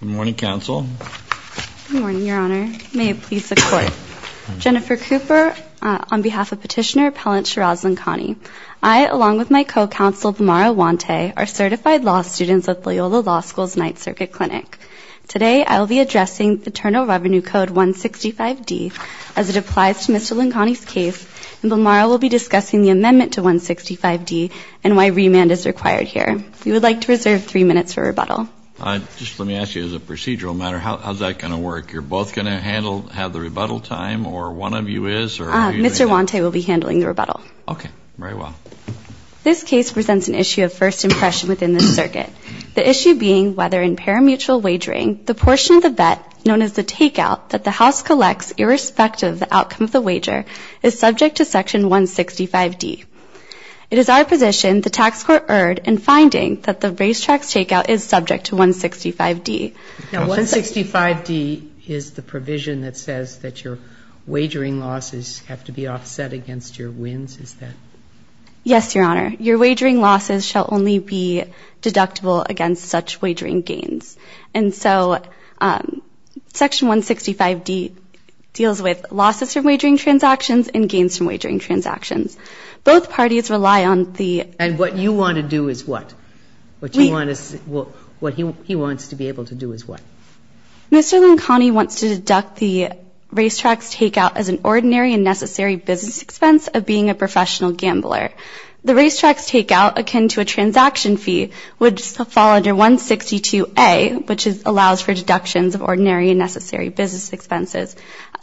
Good morning, counsel. Good morning, Your Honor. May it please the Court. Jennifer Cooper, on behalf of Petitioner Appellant Shiraz Lakhani. I, along with my co-counsel, Bimara Wante, are certified law students at Loyola Law School's Ninth Circuit Clinic. Today I will be addressing Paternal Revenue Code 165D as it applies to Mr. Lakhani's case, and Bimara will be discussing the amendment to 165D and why remand is required here. We would like to reserve three minutes for rebuttal. Just let me ask you, as a procedural matter, how's that going to work? You're both going to have the rebuttal time, or one of you is? Mr. Wante will be handling the rebuttal. Okay. Very well. This case presents an issue of first impression within this circuit, the issue being whether in parimutuel wagering the portion of the vet known as the takeout that the house collects irrespective of the outcome of the wager is subject to Section 165D. It is our position the tax court erred in finding that the raised tax takeout is subject to 165D. Now, 165D is the provision that says that your wagering losses have to be offset against your wins, is that? Yes, Your Honor. Your wagering losses shall only be deductible against such wagering gains. And so Section 165D deals with losses from wagering transactions and gains from wagering transactions. Both parties rely on the- And what you want to do is what? What he wants to be able to do is what? Mr. Loncani wants to deduct the raised tax takeout as an ordinary and necessary business expense of being a professional gambler. The raised tax takeout, akin to a transaction fee, would fall under 162A, which allows for deductions of ordinary and necessary business expenses,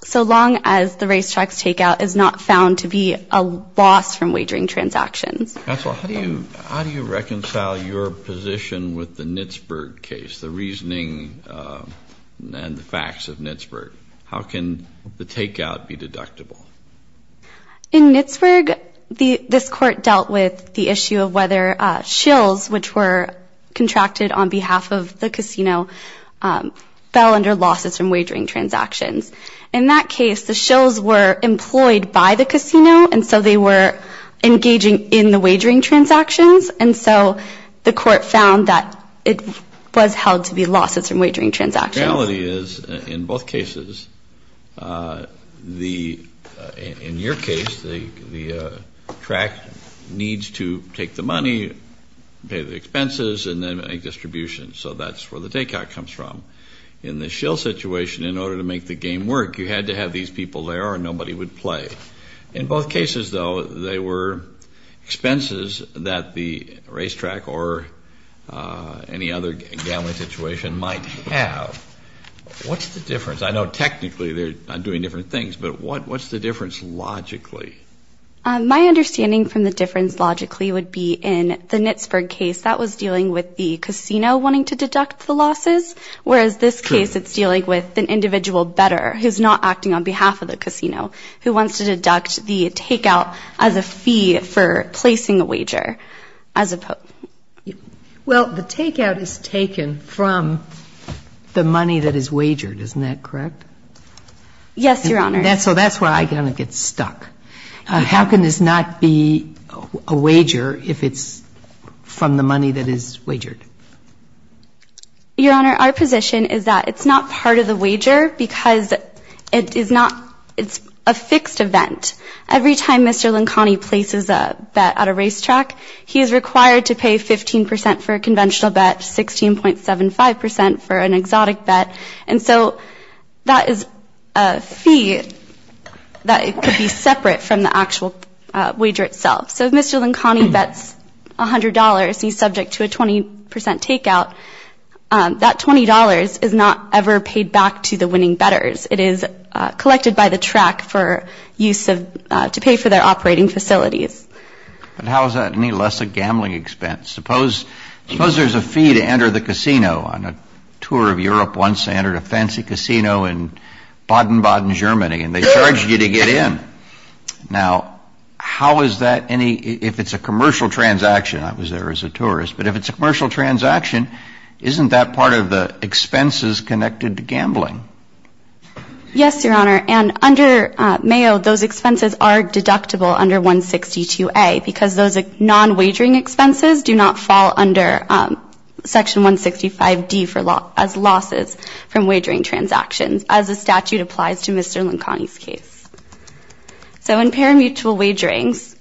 so long as the raised tax takeout is not found to be a loss from wagering transactions. Counsel, how do you reconcile your position with the Knitsburg case, the reasoning and the facts of Knitsburg? How can the takeout be deductible? In Knitsburg, this Court dealt with the issue of whether shills, which were contracted on behalf of the casino, fell under losses from wagering transactions. In that case, the shills were employed by the casino, and so they were engaging in the wagering transactions, and so the Court found that it was held to be losses from wagering transactions. The reality is, in both cases, in your case, the track needs to take the money, pay the expenses, and then make distribution. So that's where the takeout comes from. In the shill situation, in order to make the game work, you had to have these people there or nobody would play. In both cases, though, they were expenses that the racetrack or any other gambling situation might have. What's the difference? I know technically they're doing different things, but what's the difference logically? My understanding from the difference logically would be in the Knitsburg case, that was dealing with the casino wanting to deduct the losses, whereas this case, it's dealing with an individual better, who's not acting on behalf of the casino, who wants to deduct the takeout as a fee for placing a wager. Well, the takeout is taken from the money that is wagered. Isn't that correct? Yes, Your Honor. So that's where I kind of get stuck. How can this not be a wager if it's from the money that is wagered? Your Honor, our position is that it's not part of the wager because it's a fixed event. Every time Mr. Lincani places a bet at a racetrack, he is required to pay 15% for a conventional bet, 16.75% for an exotic bet. And so that is a fee that could be separate from the actual wager itself. So if Mr. Lincani bets $100 and he's subject to a 20% takeout, that $20 is not ever paid back to the winning bettors. It is collected by the track to pay for their operating facilities. But how is that any less a gambling expense? Suppose there's a fee to enter the casino. On a tour of Europe once, they entered a fancy casino in Baden-Baden, Germany, and they charged you to get in. Now, how is that any, if it's a commercial transaction, I was there as a tourist, but if it's a commercial transaction, isn't that part of the expenses connected to gambling? Yes, Your Honor. And under Mayo, those expenses are deductible under 162A because those non-wagering expenses do not fall under Section 165D as losses from wagering transactions, as the statute applies to Mr. Lincani's case. So in parimutuel wagerings,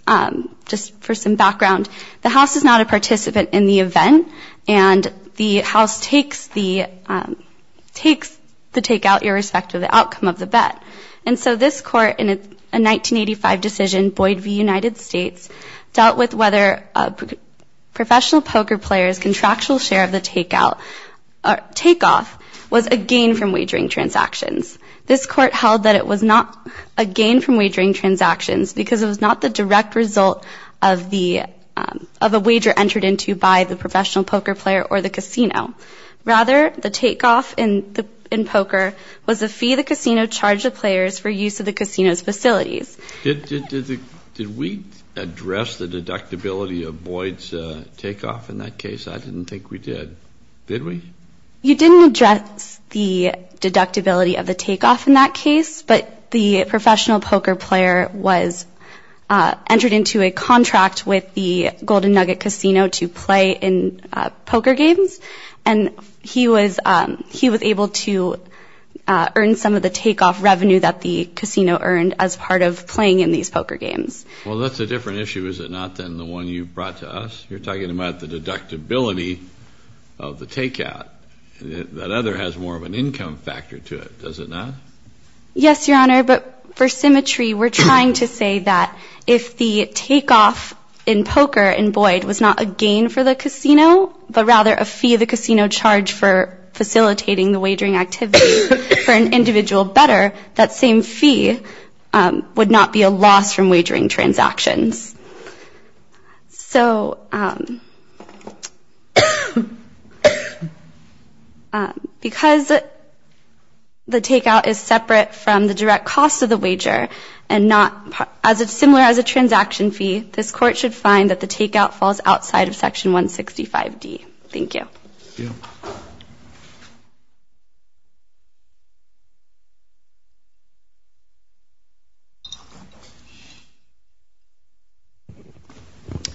just for some background, the house is not a participant in the event, and the house takes the takeout irrespective of the outcome of the bet. And so this court, in a 1985 decision, Boyd v. United States, dealt with whether a professional poker player's contractual share of the takeoff was a gain from wagering transactions. This court held that it was not a gain from wagering transactions because it was not the direct result of a wager entered into by the professional poker player or the casino. Rather, the takeoff in poker was a fee the casino charged the players for use of the casino's facilities. Did we address the deductibility of Boyd's takeoff in that case? I didn't think we did. Did we? You didn't address the deductibility of the takeoff in that case, but the professional poker player was entered into a contract with the Golden Nugget Casino to play in poker games, and he was able to earn some of the takeoff revenue that the casino earned as part of playing in these poker games. Well, that's a different issue, is it not, than the one you brought to us? You're talking about the deductibility of the takeout. That other has more of an income factor to it, does it not? Yes, Your Honor, but for symmetry, we're trying to say that if the takeoff in poker in Boyd was not a gain for the casino, but rather a fee the casino charged for facilitating the wagering activity for an individual better, that same fee would not be a loss from wagering transactions. So because the takeout is separate from the direct cost of the wager and not as similar as a transaction fee, this court should find that the takeout falls outside of Section 165D. Thank you.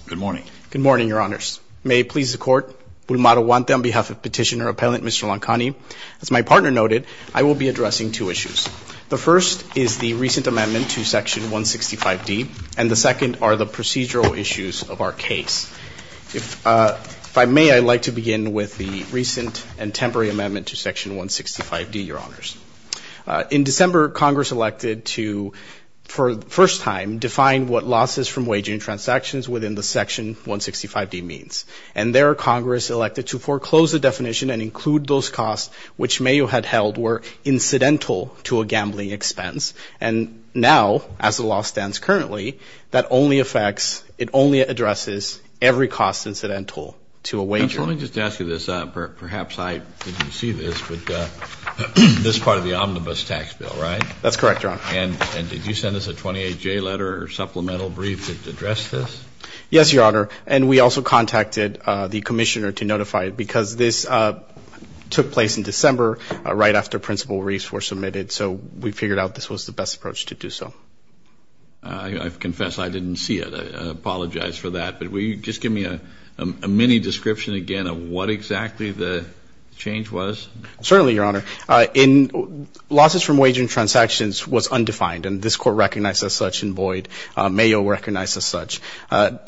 Good morning. Good morning, Your Honors. May it please the Court, Bulmara Huante on behalf of Petitioner Appellant Mr. Lancani. As my partner noted, I will be addressing two issues. The first is the recent amendment to Section 165D, and the second are the procedural issues of our case. If I may, I'd like to begin with the recent and temporary amendment to Section 165D, Your Honors. In December, Congress elected to, for the first time, define what losses from wagering transactions within the Section 165D means. And there, Congress elected to foreclose the definition and include those costs which Mayo had held were incidental to a gambling expense. And now, as the law stands currently, that only affects, it only addresses every cost incidental to a wager. Let me just ask you this. Perhaps I didn't see this, but this is part of the omnibus tax bill, right? That's correct, Your Honor. And did you send us a 28-J letter or supplemental brief that addressed this? Yes, Your Honor. And we also contacted the Commissioner to notify him because this took place in December right after principal reliefs were submitted. So we figured out this was the best approach to do so. I confess I didn't see it. I apologize for that. But will you just give me a mini-description again of what exactly the change was? Certainly, Your Honor. In losses from wagering transactions was undefined, and this Court recognized as such in void. Mayo recognized as such.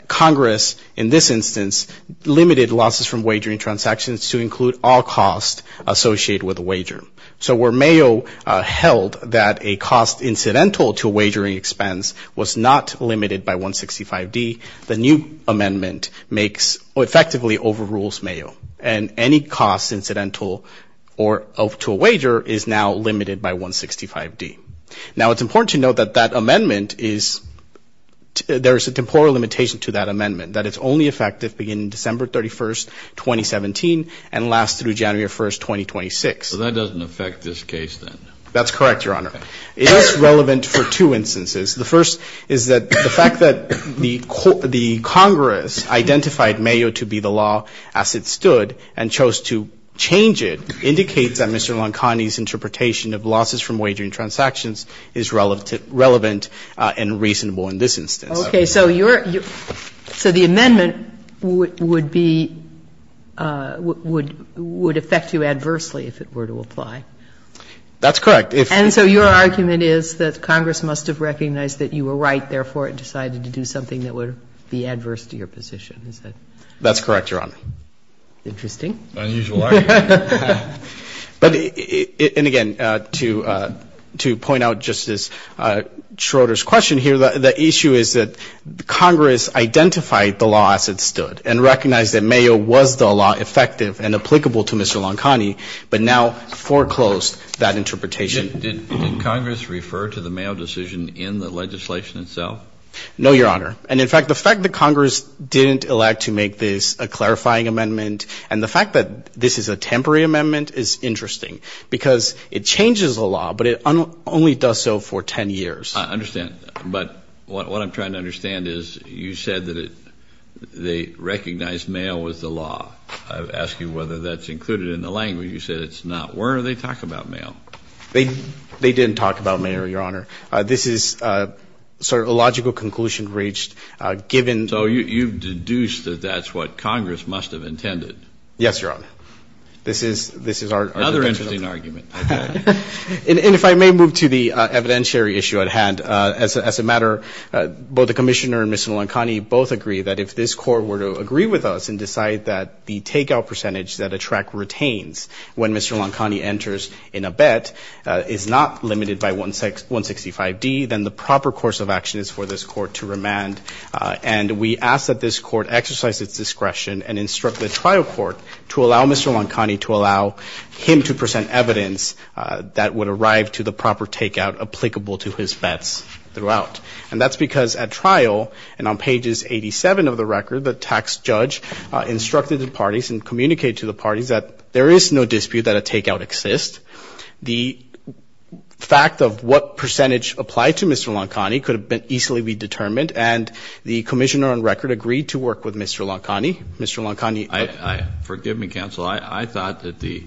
Congress, in this instance, limited losses from wagering transactions to include all costs associated with a wager. So where Mayo held that a cost incidental to a wagering expense was not limited by 165D, the new amendment makes or effectively overrules Mayo. And any cost incidental to a wager is now limited by 165D. Now, it's important to note that that amendment is ‑‑ there is a temporal limitation to that amendment, that it's only effective beginning December 31, 2017, and lasts through January 1, 2026. So that doesn't affect this case then? That's correct, Your Honor. It is relevant for two instances. The first is that the fact that the Congress identified Mayo to be the law as it stood and chose to change it indicates that Mr. Loncani's interpretation of losses from wagering transactions is relevant and reasonable in this instance. Okay. So the amendment would be ‑‑ would affect you adversely if it were to apply. That's correct. And so your argument is that Congress must have recognized that you were right, therefore it decided to do something that would be adverse to your position, is that? That's correct, Your Honor. Interesting. Unusual argument. But, and again, to point out Justice Schroeder's question here, the issue is that Congress identified the law as it stood and recognized that Mayo was the law effective and applicable to Mr. Loncani, but now foreclosed that interpretation. Did Congress refer to the Mayo decision in the legislation itself? No, Your Honor. And, in fact, the fact that Congress didn't elect to make this a clarifying amendment and the fact that this is a temporary amendment is interesting because it changes the law, but it only does so for 10 years. I understand. But what I'm trying to understand is you said that they recognized Mayo as the law. I ask you whether that's included in the language. You said it's not. Where are they talking about Mayo? They didn't talk about Mayo, Your Honor. This is sort of a logical conclusion reached given. So you've deduced that that's what Congress must have intended. Yes, Your Honor. This is our. Another interesting argument. And if I may move to the evidentiary issue at hand. As a matter, both the Commissioner and Mr. Loncani both agree that if this Court were to agree with us and decide that the takeout percentage that a track retains when Mr. Loncani enters in a bet is not limited by 165D, then the proper course of action is for this Court to remand. And we ask that this Court exercise its discretion and instruct the trial court to allow Mr. Loncani to allow him to present evidence that would arrive to the proper takeout applicable to his bets throughout. And that's because at trial and on pages 87 of the record, the tax judge instructed the parties and communicated to the parties that there is no dispute that a takeout exists. The fact of what percentage applied to Mr. Loncani could easily be determined, and the Commissioner on record agreed to work with Mr. Loncani. Mr. Loncani. Forgive me, Counsel. I thought that the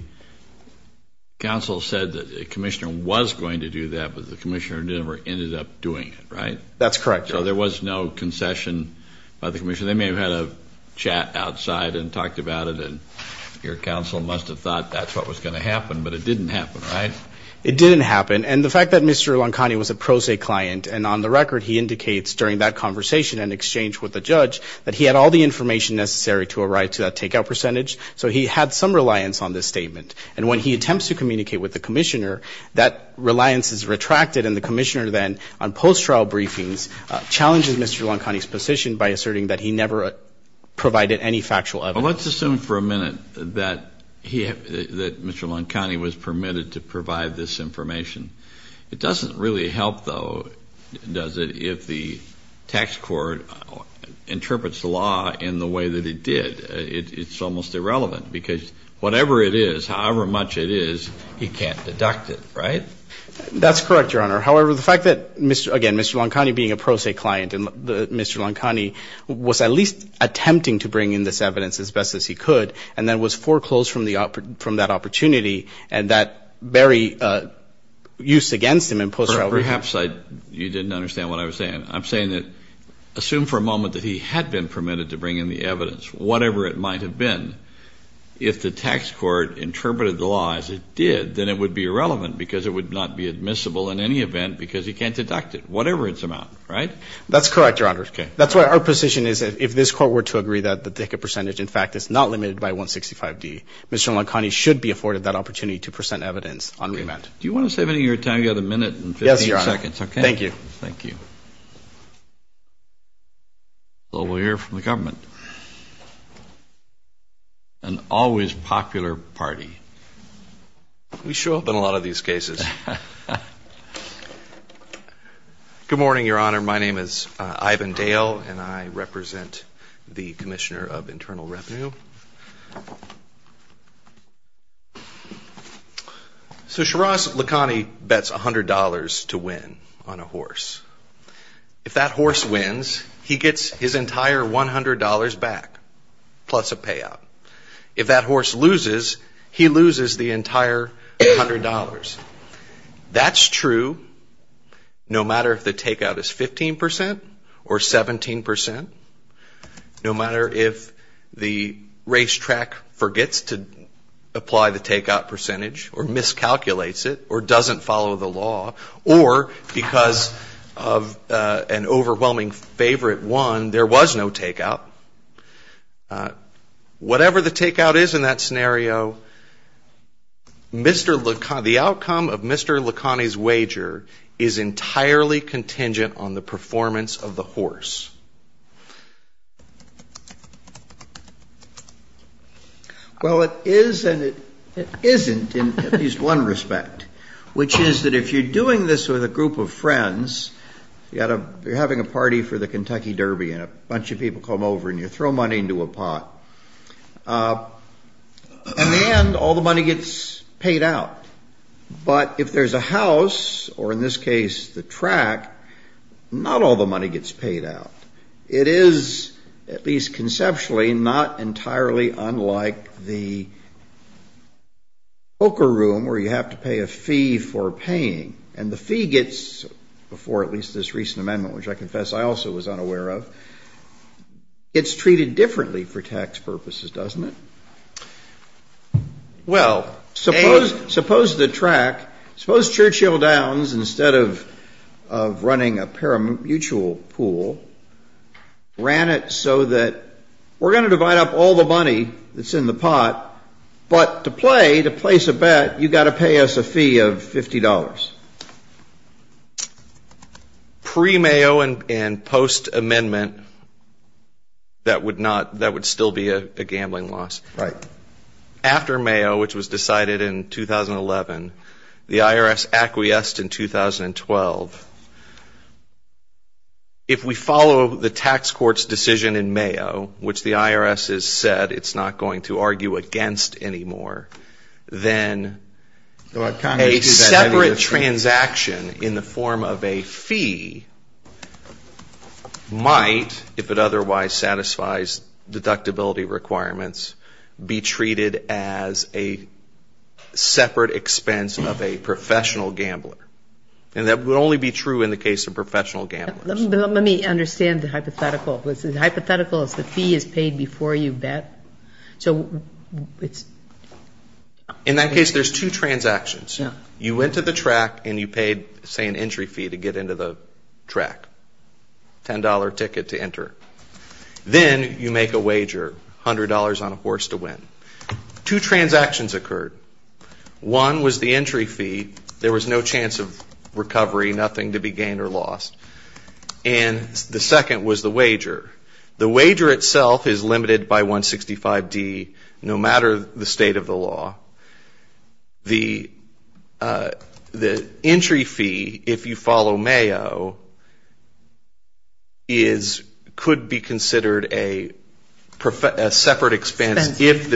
Counsel said that the Commissioner was going to do that, but the Commissioner never ended up doing it, right? That's correct. So there was no concession by the Commissioner. They may have had a chat outside and talked about it, and your Counsel must have thought that's what was going to happen, but it didn't happen, right? It didn't happen. And the fact that Mr. Loncani was a pro se client, and on the record he indicates during that conversation and exchange with the judge that he had all the information necessary to arrive to that takeout percentage, so he had some reliance on this statement. And when he attempts to communicate with the Commissioner, that reliance is retracted, and the Commissioner then on post-trial briefings challenges Mr. Loncani's position by asserting that he never provided any factual evidence. Well, let's assume for a minute that Mr. Loncani was permitted to provide this information. It doesn't really help, though, does it, if the tax court interprets the law in the way that it did. It's almost irrelevant because whatever it is, however much it is, he can't deduct it, right? That's correct, Your Honor. However, the fact that, again, Mr. Loncani being a pro se client, and Mr. Loncani was at least attempting to bring in this evidence as best as he could and then was foreclosed from that opportunity and that very use against him in post-trial briefings. Perhaps you didn't understand what I was saying. I'm saying that assume for a moment that he had been permitted to bring in the evidence. Whatever it might have been, if the tax court interpreted the law as it did, then it would be irrelevant because it would not be admissible in any event because he can't deduct it, whatever its amount, right? That's correct, Your Honor. That's why our position is that if this court were to agree that the ticket percentage, in fact, is not limited by 165D, Mr. Loncani should be afforded that opportunity to present evidence on remand. Do you want to save any of your time? You have a minute and 15 seconds. Yes, Your Honor. Thank you. Thank you. Well, we'll hear from the government. An always popular party. We show up in a lot of these cases. Good morning, Your Honor. My name is Ivan Dale, and I represent the Commissioner of Internal Revenue. So Shiraz Loncani bets $100 to win on a horse. If that horse wins, he gets his entire $100 back plus a payout. If that horse loses, he loses the entire $100. That's true no matter if the takeout is 15% or 17%, no matter if the racetrack forgets to apply the takeout percentage or miscalculates it or doesn't follow the law or because of an overwhelming favorite one, there was no takeout, whatever the takeout is in that scenario, Mr. Loncani, the outcome of Mr. Loncani's wager is entirely contingent on the performance of the horse. Well, it is and it isn't in at least one respect, which is that if you're doing this with a group of friends, you're having a party for the Kentucky Derby and a bunch of people come over and you throw money into a pot. In the end, all the money gets paid out. But if there's a house, or in this case the track, not all the money gets paid out. It is at least conceptually not entirely unlike the poker room where you have to pay a fee for paying. And the fee gets, before at least this recent amendment, which I confess I also was unaware of, it's treated differently for tax purposes, doesn't it? Well, suppose the track, suppose Churchill Downs, instead of running a paramutual pool, ran it so that we're going to divide up all the money that's in the pot, but to play, to place a bet, you've got to pay us a fee of $50. Pre-Mayo and post-amendment, that would still be a gambling loss. Right. After Mayo, which was decided in 2011, the IRS acquiesced in 2012. If we follow the tax court's decision in Mayo, which the IRS has said it's not going to argue against anymore, then a separate transaction in the form of a fee might, if it otherwise satisfies deductibility requirements, be treated as a separate expense of a professional gambler. And that would only be true in the case of professional gamblers. Let me understand the hypothetical. The hypothetical is the fee is paid before you bet. In that case, there's two transactions. You went to the track and you paid, say, an entry fee to get into the track, $10 ticket to enter. Then you make a wager, $100 on a horse to win. Two transactions occurred. One was the entry fee. There was no chance of recovery, nothing to be gained or lost. And the second was the wager. The wager itself is limited by 165D, no matter the state of the law. The entry fee, if you follow Mayo, could be considered a separate expense if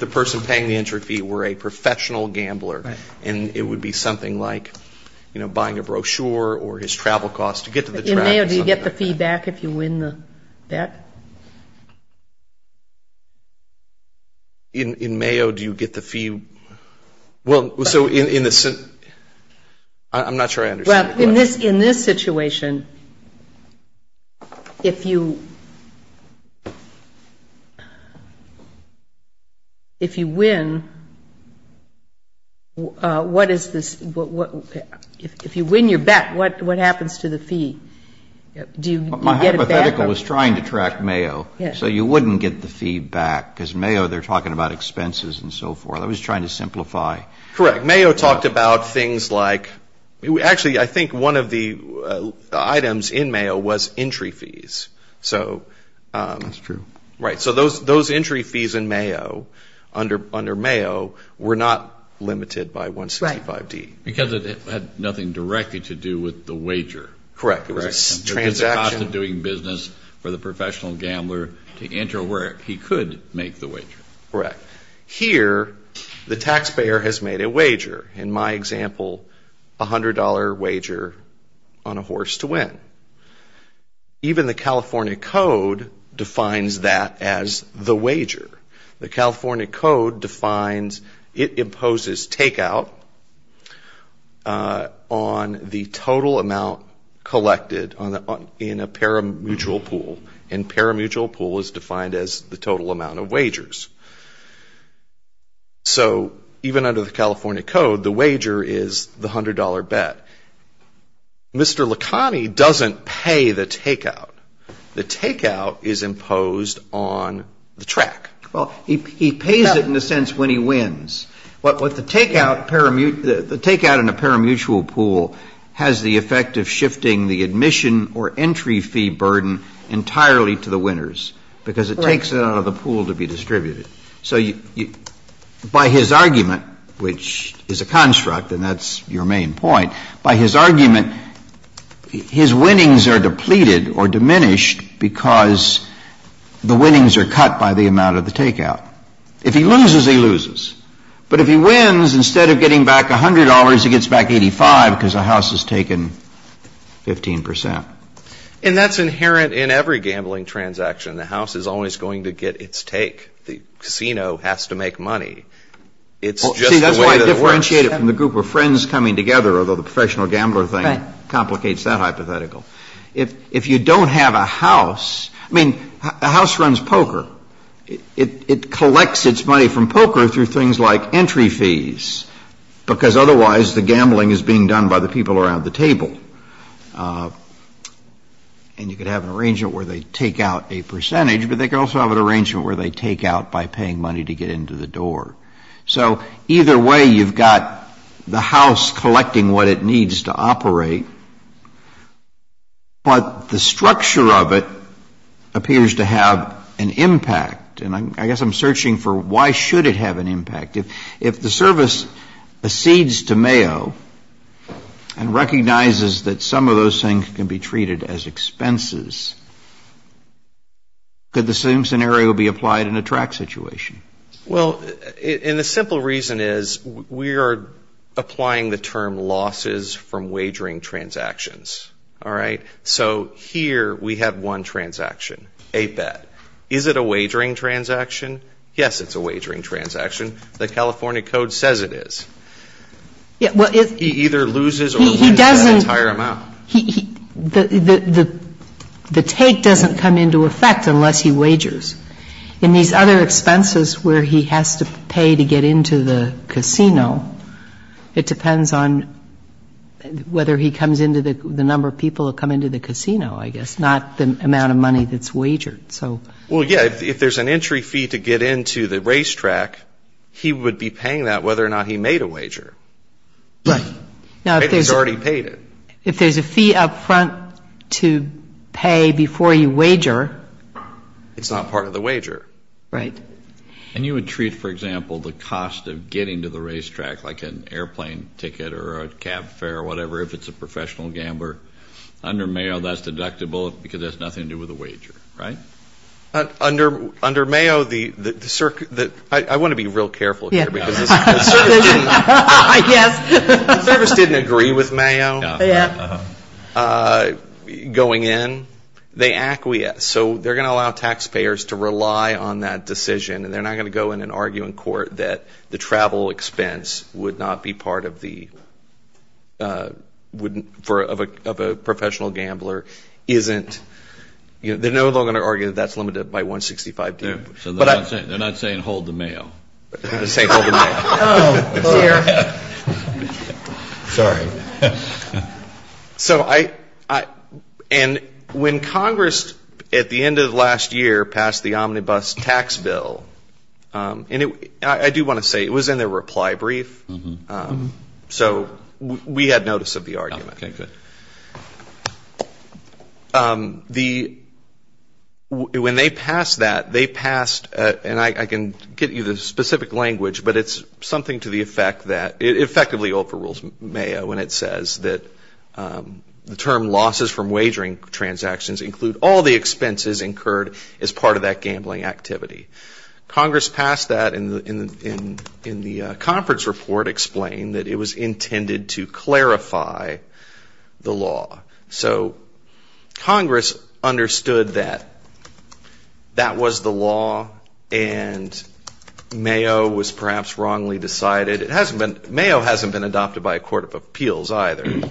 the person paying the entry fee were a professional gambler. And it would be something like, you know, buying a brochure or his travel costs to get to the track. In Mayo, do you get the fee back if you win the bet? In Mayo, do you get the fee? I'm not sure I understand your question. In this situation, if you win, what is this? If you win your bet, what happens to the fee? My hypothetical was trying to track Mayo, so you wouldn't get the fee back, because Mayo, they're talking about expenses and so forth. I was trying to simplify. Correct. Mayo talked about things like, actually, I think one of the items in Mayo was entry fees. That's true. Right. So those entry fees in Mayo, under Mayo, were not limited by 165D. Right. Because it had nothing directly to do with the wager. Correct. It was a transaction. It wasn't doing business for the professional gambler to enter where he could make the wager. Correct. Here, the taxpayer has made a wager. In my example, $100 wager on a horse to win. Even the California Code defines that as the wager. The California Code defines, it imposes takeout on the total amount collected in a parimutuel pool. And parimutuel pool is defined as the total amount of wagers. So even under the California Code, the wager is the $100 bet. Mr. Licani doesn't pay the takeout. The takeout is imposed on the track. Well, he pays it in the sense when he wins. But the takeout in a parimutuel pool has the effect of shifting the admission or entry fee burden entirely to the winners because it takes it out of the pool to be distributed. So by his argument, which is a construct, and that's your main point, by his argument, his winnings are depleted or diminished because the winnings are cut by the amount of the takeout. If he loses, he loses. But if he wins, instead of getting back $100, he gets back 85 because the house has taken 15 percent. And that's inherent in every gambling transaction. The house is always going to get its take. The casino has to make money. It's just the way that it works. And you could have an arrangement where they take out a percentage, but they could also have an arrangement where they take out by paying money to get into the door. But the structure of it appears to have an impact. And I guess I'm searching for why should it have an impact. If the service accedes to Mayo and recognizes that some of those things can be treated as expenses, could the same scenario be applied in a track situation? Well, and the simple reason is we are applying the term losses from wagering transactions. All right? So here we have one transaction, 8-Bet. Is it a wagering transaction? Yes, it's a wagering transaction. The California Code says it is. He either loses or wins that entire amount. The take doesn't come into effect unless he wagers. In these other expenses where he has to pay to get into the casino, it depends on whether he comes into the number of people that come into the casino, I guess, not the amount of money that's wagered. Well, yeah, if there's an entry fee to get into the racetrack, he would be paying that whether or not he made a wager. Right. If he's already paid it. If there's a fee up front to pay before you wager. It's not part of the wager. Right. And you would treat, for example, the cost of getting to the racetrack like an airplane ticket or a cab fare or whatever, if it's a professional gambler. Under Mayo, that's deductible because that's nothing to do with a wager, right? Under Mayo, I want to be real careful here. The service didn't agree with Mayo going in. They acquiesce. So they're going to allow taxpayers to rely on that decision. And they're not going to go in and argue in court that the travel expense would not be part of the fee of a professional gambler. They're no longer going to argue that that's limited by 165. They're not saying hold the Mayo. Sorry. And when Congress, at the end of last year, passed the Omnibus Tax Bill, and I do want to say it was in their reply brief. So we had notice of the argument. Okay. Good. When they passed that, they passed, and I can get you the specific language, but it's something to the effect that it effectively overrules Mayo when it says that the term losses from wagering transactions include all the expenses incurred as part of that gambling activity. Congress passed that, and the conference report explained that it was intended to clarify the law. So Congress understood that that was the law, and Mayo was perhaps wrongly decided. It hasn't been, Mayo hasn't been adopted by a court of appeals either.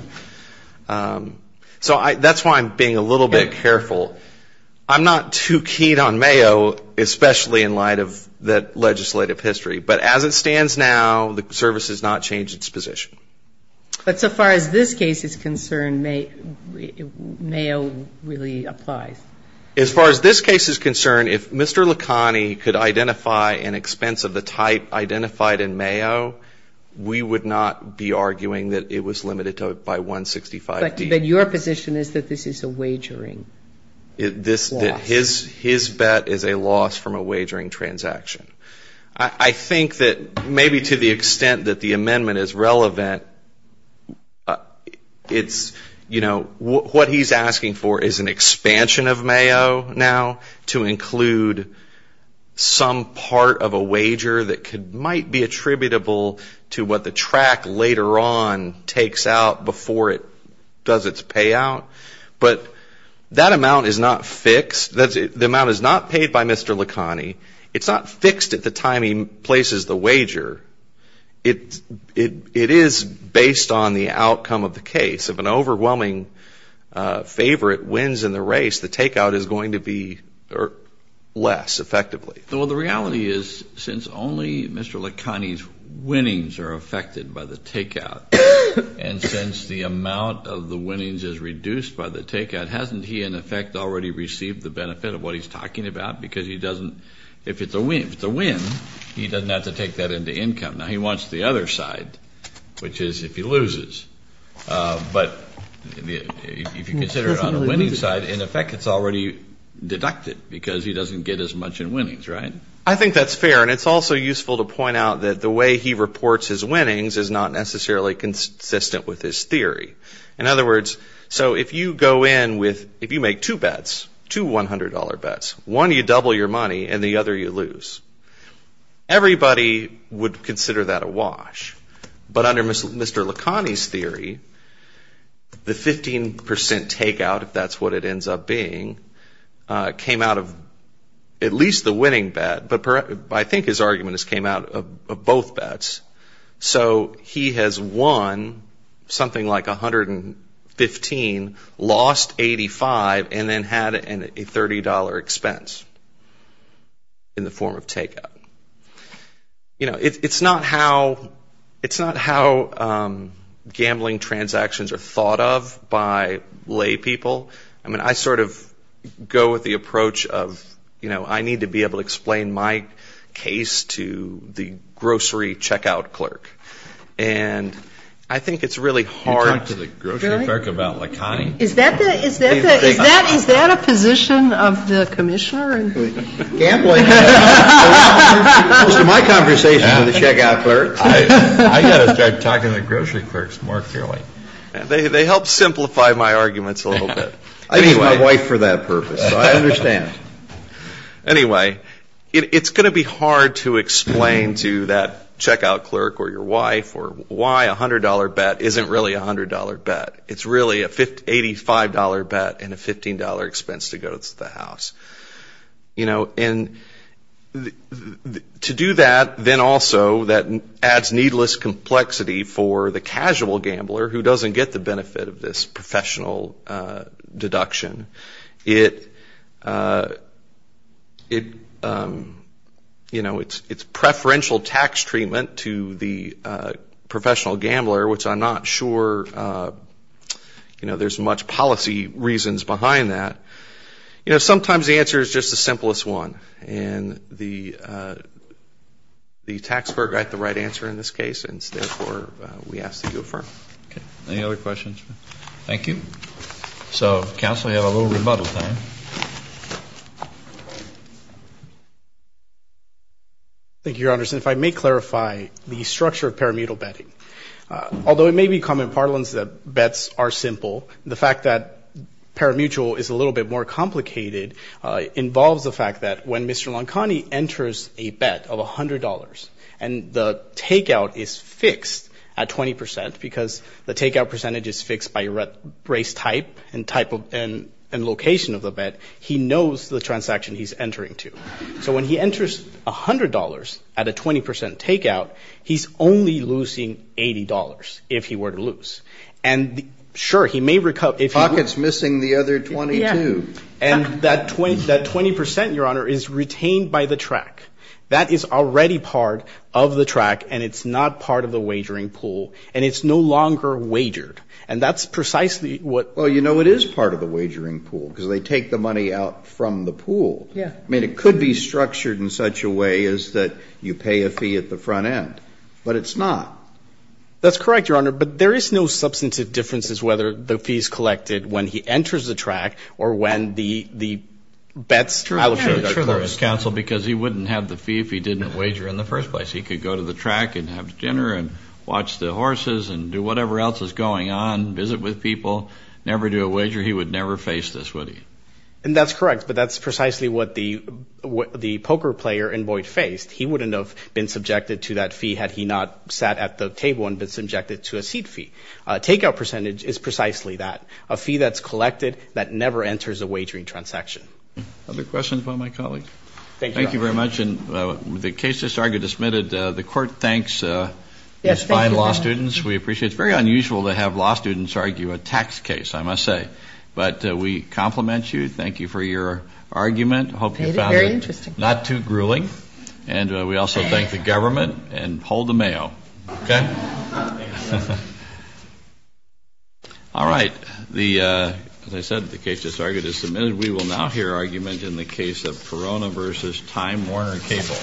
So that's why I'm being a little bit careful. I'm not too keyed on Mayo, especially in light of the legislative history. But as it stands now, the service has not changed its position. But so far as this case is concerned, Mayo really applies. As far as this case is concerned, if Mr. Licani could identify an expense of the type identified in Mayo, we would not be arguing that it was limited by 165D. But your position is that this is a wagering loss. His bet is a loss from a wagering transaction. I think that maybe to the extent that the amendment is relevant, it's, you know, what he's asking for is an expansion of Mayo now to include some part of a wager that might be attributable to what the track later on takes out before it does its payout. But that amount is not fixed. The amount is not paid by Mr. Licani. It's not fixed at the time he places the wager. It is based on the outcome of the case. If an overwhelming favorite wins in the race, the takeout is going to be less effectively. Well, the reality is since only Mr. Licani's winnings are affected by the takeout, and since the amount of the winnings is reduced by the takeout, hasn't he in effect already received the benefit of what he's talking about? Because he doesn't, if it's a win, he doesn't have to take that into income. Now, he wants the other side, which is if he loses. But if you consider it on the winning side, in effect it's already deducted because he doesn't get as much in winnings, right? I think that's fair, and it's also useful to point out that the way he reports his winnings is not necessarily consistent with his theory. In other words, so if you go in with, if you make two bets, two $100 bets, one you double your money and the other you lose, everybody would consider that a wash. But under Mr. Licani's theory, the 15% takeout, if that's what it ends up being, came out of at least the winning bet, but I think his argument is it came out of both bets. So he has won something like 115, lost 85, and then had a $30 expense in the form of takeout. You know, it's not how gambling transactions are thought of by lay people. I mean, I sort of go with the approach of, you know, I need to be able to explain my case to the grocery checkout clerk. And I think it's really hard to... Most of my conversations with the checkout clerks... They help simplify my arguments a little bit. Anyway, it's going to be hard to explain to that checkout clerk or your wife why a $100 bet isn't really a $100 bet. It's really a $85 bet and a $15 expense to go to the house. And to do that, then also that adds needless complexity for the casual gambler who doesn't get the benefit of this professional deduction. It's preferential tax treatment to the professional gambler, which I'm not sure there's much policy reasons behind that. You know, sometimes the answer is just the simplest one. And the taxpayer got the right answer in this case, and therefore we ask that you affirm. Okay. Any other questions? Thank you. So, counsel, you have a little rebuttal time. Thank you, Your Honors. And if I may clarify the structure of parimutel betting. Although it may be common parlance that bets are simple, the fact that parimutel is a little bit more complicated involves the fact that when Mr. Loncani enters a bet of $100 and the takeout is fixed at 20 percent, because the takeout percentage is fixed by race type and type of... And location of the bet, he knows the transaction he's entering to. So when he enters $100 at a 20 percent takeout, he's only losing $80 if he were to lose. And, sure, he may recover... Pocket's missing the other 22. And that 20 percent, Your Honor, is retained by the track. That is already part of the track, and it's not part of the wagering pool. And it's no longer wagered. And that's precisely what... Well, you know, it is part of the wagering pool, because they take the money out from the pool. I mean, it could be structured in such a way as that you pay a fee at the front end, but it's not. That's correct, Your Honor, but there is no substantive difference as to whether the fee is collected when he enters the track or when the bets... Sure there is, counsel, because he wouldn't have the fee if he didn't wager in the first place. He could go to the track and have dinner and watch the horses and do whatever else is going on, visit with people, never do a wager. He would never face this, would he? And that's correct, but that's precisely what the poker player invoiced faced. He wouldn't have been subjected to that fee had he not sat at the table and been subjected to a seat fee. Takeout percentage is precisely that, a fee that's collected that never enters a wagering transaction. Other questions by my colleagues? Thank you, Your Honor. Thank you very much, and the case just argued is submitted. The Court thanks these fine law students. We appreciate it. It's very unusual to have law students argue a tax case, I must say. But we compliment you. Thank you for your argument. I hope you found it not too grueling, and we also thank the government. And hold the mayo, okay? All right. As I said, the case just argued is submitted. We will now hear argument in the case of Perona v. Time Warner Cable.